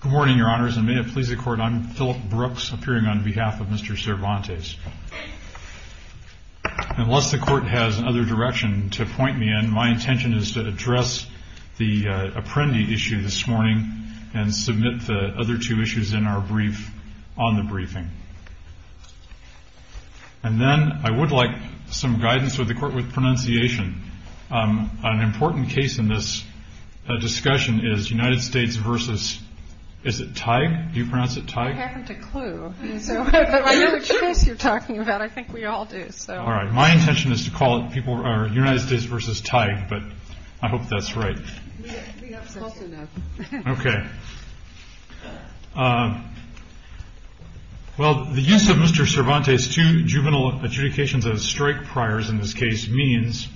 Good morning, Your Honors, and may it please the Court, I'm Philip Brooks, appearing on behalf of Mr. Cervantes. Unless the Court has another direction to point me in, my intention is to address the Apprendi issue this morning and submit the other two issues in our brief on the briefing. And then I would like some guidance with the Court with pronunciation. An important case in this discussion is United States v. Tighe. My intention is to call it United States v. Tighe, but I hope that's right. Well, the use of Mr. Cervantes' two juvenile adjudications as strike priors in this case means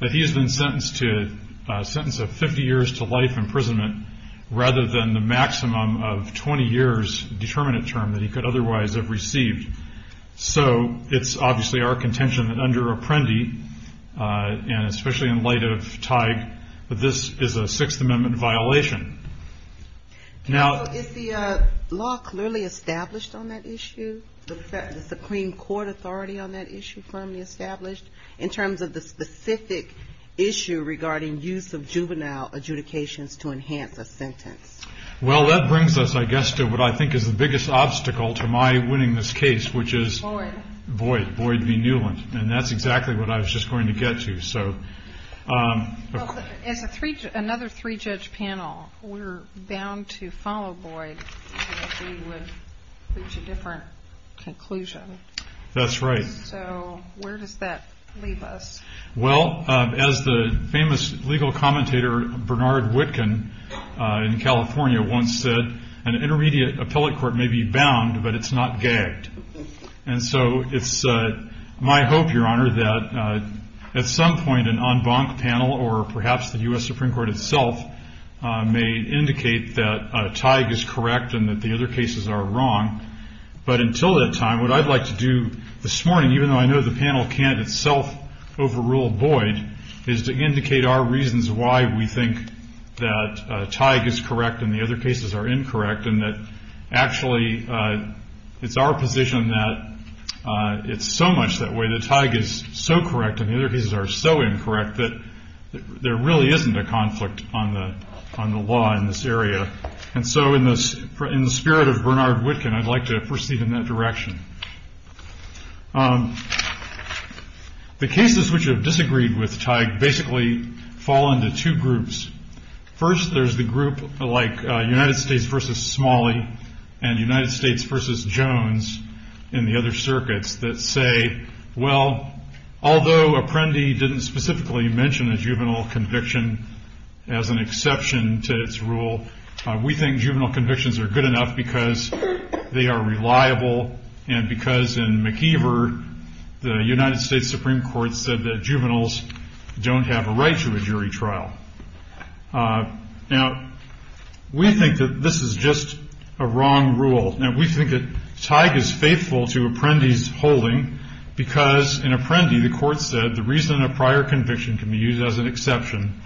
that he has been sentenced to a sentence of 50 years to life imprisonment rather than the maximum of 20 years determinant term that he could otherwise have received. So it's obviously our contention that under Apprendi, and especially in light of Tighe, that this is a Sixth Amendment violation. Is the law clearly established on that issue, the Supreme Court authority on that issue firmly established, in terms of the specific issue regarding use of juvenile adjudications to enhance a sentence? Well, that brings us, I guess, to what I think is the biggest obstacle to my winning this case, which is... Boyd. Boyd v. Newland, and that's exactly what I was just going to get to. As another three-judge panel, we're bound to follow Boyd if we would reach a different conclusion. That's right. So where does that leave us? Well, as the famous legal commentator Bernard Witkin in California once said, an intermediate appellate court may be bound, but it's not gagged. And so it's my hope, Your Honor, that at some point an en banc panel, or perhaps the U.S. Supreme Court itself, may indicate that Tighe is correct and that the other cases are wrong. But until that time, what I'd like to do this morning, even though I know the panel can't itself overrule Boyd, is to indicate our reasons why we think that Tighe is correct and the other cases are incorrect, and that actually it's our position that it's so much that way, that Tighe is so correct and the other cases are so incorrect that there really isn't a conflict on the law in this area. And so in the spirit of Bernard Witkin, I'd like to proceed in that direction. The cases which have disagreed with Tighe basically fall into two groups. First, there's the group like United States v. Smalley and United States v. Jones in the other circuits that say, well, although Apprendi didn't specifically mention a juvenile conviction as an exception to its rule, we think juvenile convictions are good enough because they are reliable and because in McIver, the United States Supreme Court said that juveniles don't have a right to a jury trial. Now, we think that this is just a wrong rule. Now, we think that Tighe is faithful to Apprendi's holding because in Apprendi, the court said the reason a prior conviction can be used as an exception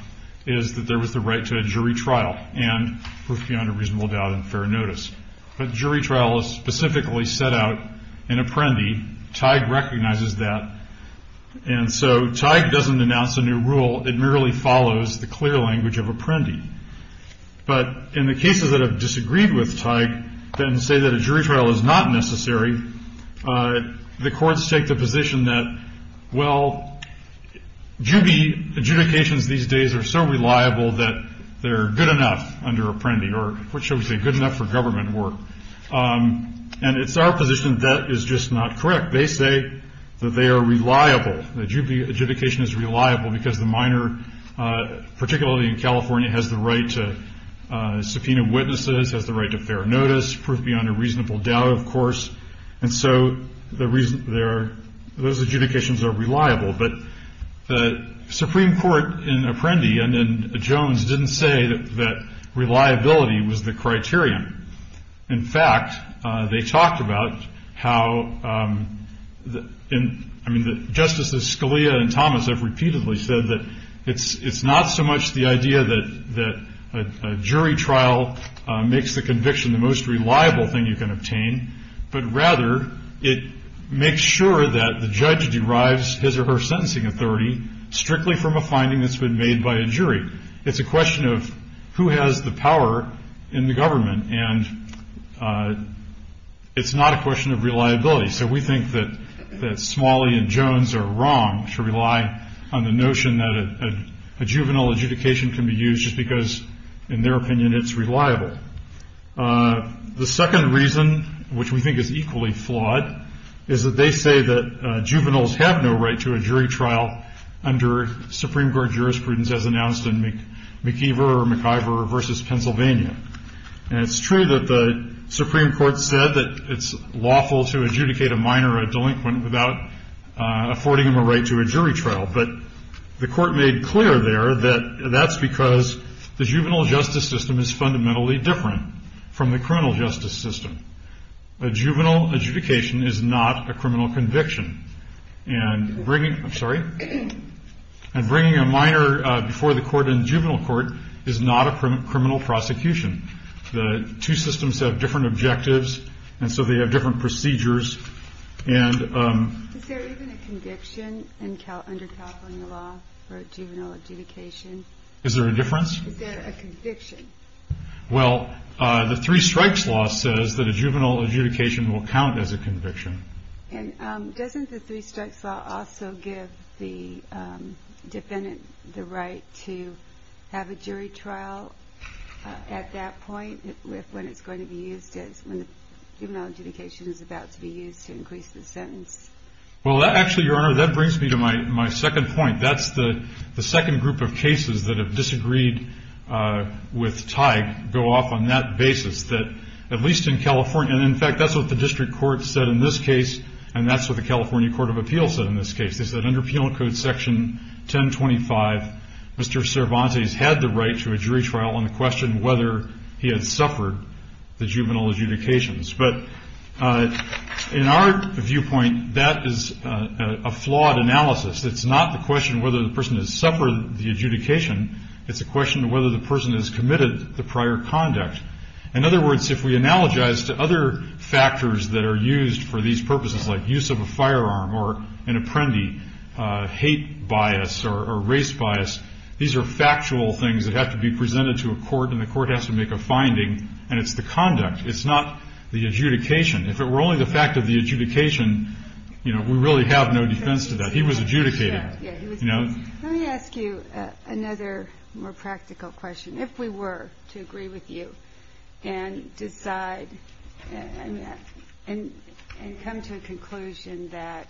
is that there was the right to a jury trial and we're under reasonable doubt and fair notice. But jury trial is specifically set out in Apprendi. Tighe recognizes that. And so Tighe doesn't announce a new rule. It merely follows the clear language of Apprendi. But in the cases that have disagreed with Tighe and say that a jury trial is not necessary, the courts take the position that, well, juvie adjudications these days are so reliable that they're good enough under Apprendi or, what shall we say, good enough for government work. And it's our position that that is just not correct. They say that they are reliable, that adjudication is reliable because the minor particularity in California has the right to subpoena witnesses, has the right to fair notice, proof beyond a reasonable doubt, of course. And so those adjudications are reliable. But the Supreme Court in Apprendi and in Jones didn't say that reliability was the criterion. In fact, they talked about how Justice Scalia and Thomas have repeatedly said that it's not so much the idea that a jury trial makes the conviction the most reliable thing you can obtain, but rather it makes sure that the judge derives his or her sentencing authority strictly from a finding that's been made by a jury. It's a question of who has the power in the government, and it's not a question of reliability. So we think that Smalley and Jones are wrong to rely on the notion that a juvenile adjudication can be used just because, in their opinion, it's reliable. The second reason, which we think is equally flawed, is that they say that juveniles have no right to a jury trial under Supreme Court jurisprudence, as announced in McIver v. Pennsylvania. And it's true that the Supreme Court said that it's lawful to adjudicate a minor, a delinquent, without affording them a right to a jury trial. But the Court made clear there that that's because the juvenile justice system is fundamentally different from the criminal justice system. A juvenile adjudication is not a criminal conviction. And bringing a minor before the court in juvenile court is not a criminal prosecution. The two systems have different objectives, and so they have different procedures. Is there even a conviction under California law for a juvenile adjudication? Is there a difference? Is there a conviction? Well, the Three Strikes Law says that a juvenile adjudication will count as a conviction. And doesn't the Three Strikes Law also give the defendant the right to have a jury trial at that point when it's going to be used, when the juvenile adjudication is about to be used to increase the sentence? Well, actually, Your Honor, that brings me to my second point. That's the second group of cases that have disagreed with Teig go off on that basis, that at least in California, and, in fact, that's what the district court said in this case, and that's what the California Court of Appeals said in this case. They said under Penal Code Section 1025, Mr. Cervantes had the right to a jury trial on the question whether he had suffered the juvenile adjudications. But in our viewpoint, that is a flawed analysis. It's not the question whether the person has suffered the adjudication. It's a question of whether the person has committed the prior conduct. In other words, if we analogize to other factors that are used for these purposes, like use of a firearm or an apprendi, hate bias or race bias, these are factual things that have to be presented to a court, and the court has to make a finding, and it's the conduct. It's not the adjudication. If it were only the fact of the adjudication, you know, we really have no defense to that. He was adjudicated. Let me ask you another more practical question. If we were to agree with you and decide and come to a conclusion that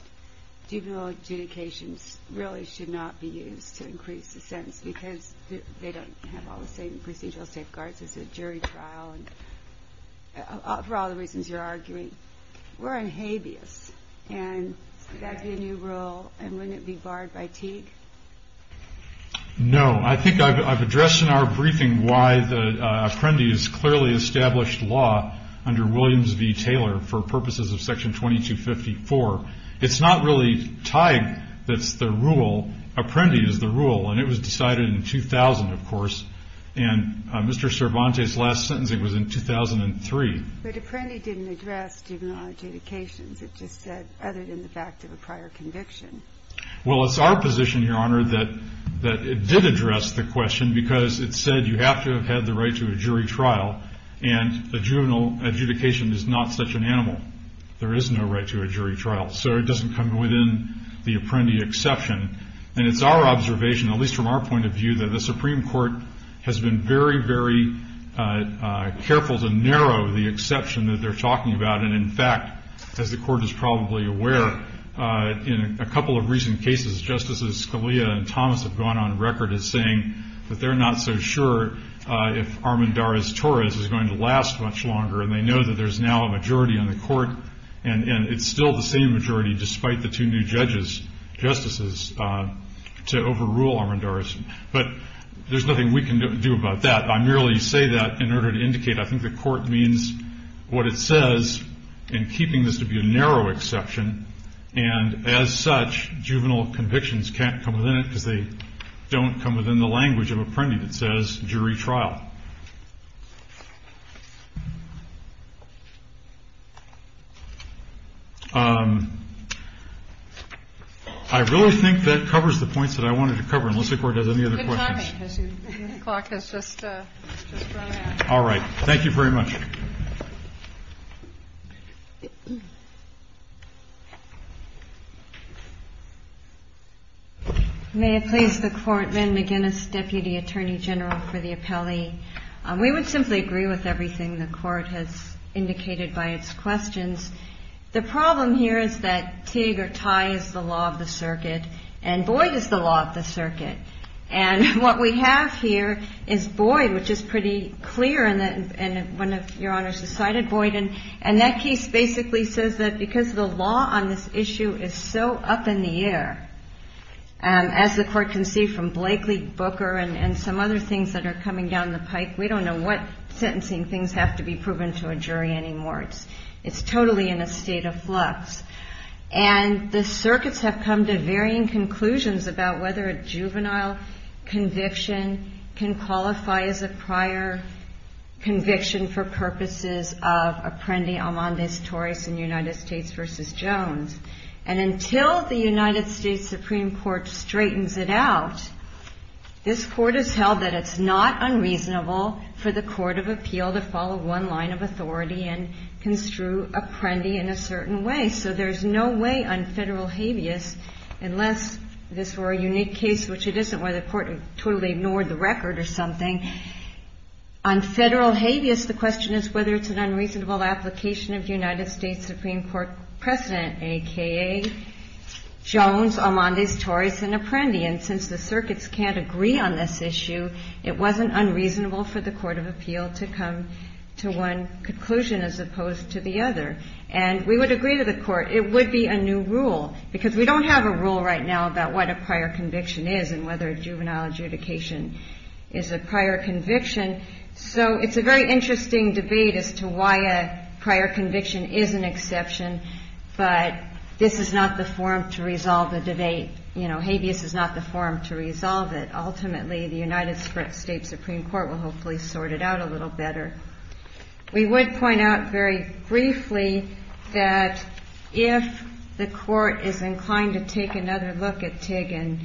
juvenile adjudications really should not be used to increase the sentence because they don't have all the same procedural safeguards as a jury trial for all the reasons you're arguing, we're on habeas, and that's a new rule, and wouldn't it be barred by Teague? No. I think I've addressed in our briefing why the apprendi has clearly established law under Williams v. Taylor for purposes of Section 2254. It's not really Teague that's the rule. Apprendi is the rule, and it was decided in 2000, of course, and Mr. Cervantes' last sentencing was in 2003. But Apprendi didn't address juvenile adjudications. It just said other than the fact of a prior conviction. Well, it's our position, Your Honor, that it did address the question because it said you have to have had the right to a jury trial, and a juvenile adjudication is not such an animal. There is no right to a jury trial, so it doesn't come within the Apprendi exception. And it's our observation, at least from our point of view, that the Supreme Court has been very, very careful to narrow the exception that they're talking about. And, in fact, as the Court is probably aware, in a couple of recent cases, Justices Scalia and Thomas have gone on record as saying that they're not so sure if Armendariz-Torres is going to last much longer, and they know that there's now a majority on the Court, and it's still the same majority, despite the two new judges, justices, to overrule Armendariz. But there's nothing we can do about that. I merely say that in order to indicate I think the Court means what it says in keeping this to be a narrow exception. And, as such, juvenile convictions can't come within it because they don't come within the language of Apprendi that says jury trial. I really think that covers the points that I wanted to cover, unless the Court has any other questions. All right. Thank you very much. May it please the Court, Lynn McGinnis, Deputy Attorney General for the Appellee. We would simply agree with everything the Court has indicated by its questions. The problem here is that Teague or Tye is the law of the circuit, and Boyd is the law of the circuit. And what we have here is Boyd, which is pretty clear, and one of Your Honors has cited Boyd and Tye, and that case basically says that because the law on this issue is so up in the air, as the Court can see from Blakely, Booker, and some other things that are coming down the pike, we don't know what sentencing things have to be proven to a jury anymore. It's totally in a state of flux. And the circuits have come to varying conclusions about whether a juvenile conviction can qualify as a prior conviction for purposes of Apprendi, Armandes, Torres, and United States v. Jones. And until the United States Supreme Court straightens it out, this Court has held that it's not unreasonable for the court of appeal to follow one line of authority and construe Apprendi in a certain way. So there's no way on federal habeas, unless this were a unique case, which it isn't where the Court totally ignored the record or something. On federal habeas, the question is whether it's an unreasonable application of United States Supreme Court precedent, a.k.a. Jones, Armandes, Torres, and Apprendi. And since the circuits can't agree on this issue, it wasn't unreasonable for the court of appeal to come to one conclusion as opposed to the other. And we would agree to the Court. It would be a new rule, because we don't have a rule right now about what a prior conviction is and whether a juvenile adjudication is a prior conviction. So it's a very interesting debate as to why a prior conviction is an exception, but this is not the forum to resolve the debate. You know, habeas is not the forum to resolve it. Ultimately, the United States Supreme Court will hopefully sort it out a little better. We would point out very briefly that if the court is inclined to take another look at TIG and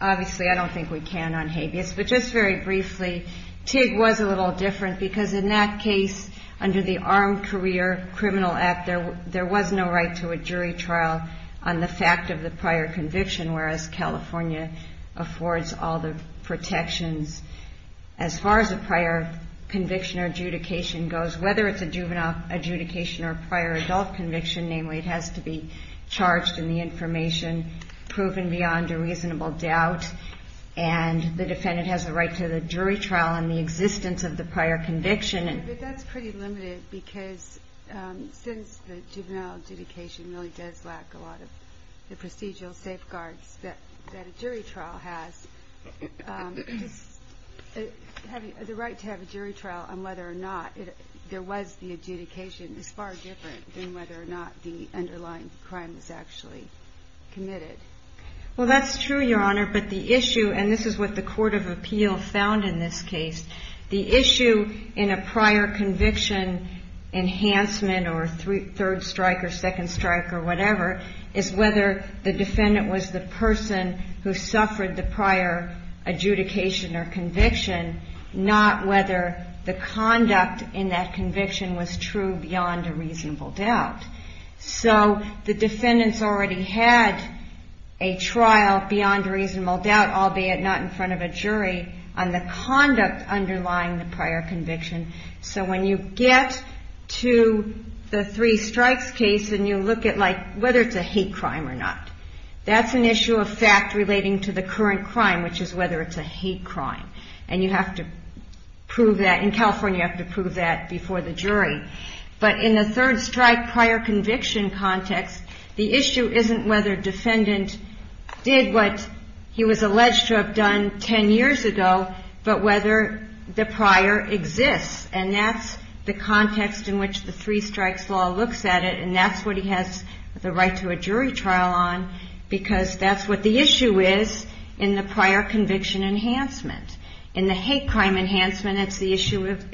obviously I don't think we can on habeas, but just very briefly, TIG was a little different because in that case, under the Armed Career Criminal Act, there was no right to a jury trial on the fact of the prior conviction, whereas California affords all the protections as far as a prior conviction or adjudication goes, whether it's a juvenile adjudication or a prior adult conviction, namely it has to be charged in the information proven beyond a reasonable doubt and the defendant has the right to the jury trial on the existence of the prior conviction. But that's pretty limited because since the juvenile adjudication really does lack a lot of the procedural safeguards that a jury trial has, the right to have a jury trial on whether or not there was the adjudication is far different than whether or not the underlying crime was actually committed. Well, that's true, Your Honor, but the issue, and this is what the Court of Appeal found in this case, the issue in a prior conviction enhancement or third strike or second strike or whatever is whether the defendant was the person who suffered the prior adjudication or conviction, not whether the conduct in that conviction was true beyond a reasonable doubt. So the defendant's already had a trial beyond a reasonable doubt, albeit not in front of a jury, on the conduct underlying the prior conviction. So when you get to the three strikes case and you look at whether it's a hate crime or not, that's an issue of fact relating to the current crime, which is whether it's a hate crime. And you have to prove that. In California, you have to prove that before the jury. But in the third strike prior conviction context, the issue isn't whether a defendant did what he was alleged to have done 10 years ago, but whether the prior exists. And that's the context in which the three strikes law looks at it, and that's what he has the right to a jury trial on because that's what the issue is in the prior conviction enhancement. In the hate crime enhancement, it's the issue of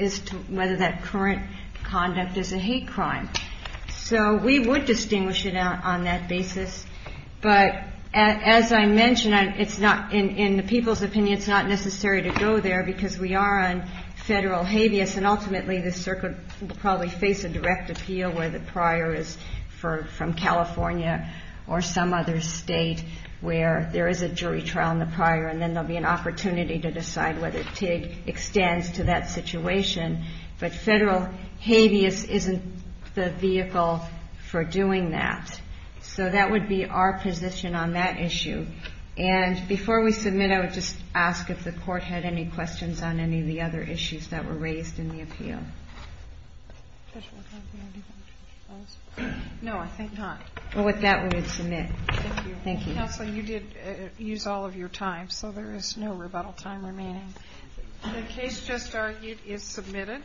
whether that current conduct is a hate crime. So we would distinguish it on that basis. But as I mentioned, in the people's opinion, it's not necessary to go there because we are on federal habeas, and ultimately the circuit will probably face a direct appeal where the prior is from California or some other state where there is a jury trial in the prior. And then there will be an opportunity to decide whether TIG extends to that situation. But federal habeas isn't the vehicle for doing that. So that would be our position on that issue. And before we submit, I would just ask if the court had any questions on any of the other issues that were raised in the appeal. No, I think not. Well, with that, we would submit. Thank you. Counsel, you did use all of your time, so there is no rebuttal time remaining. The case just argued is submitted.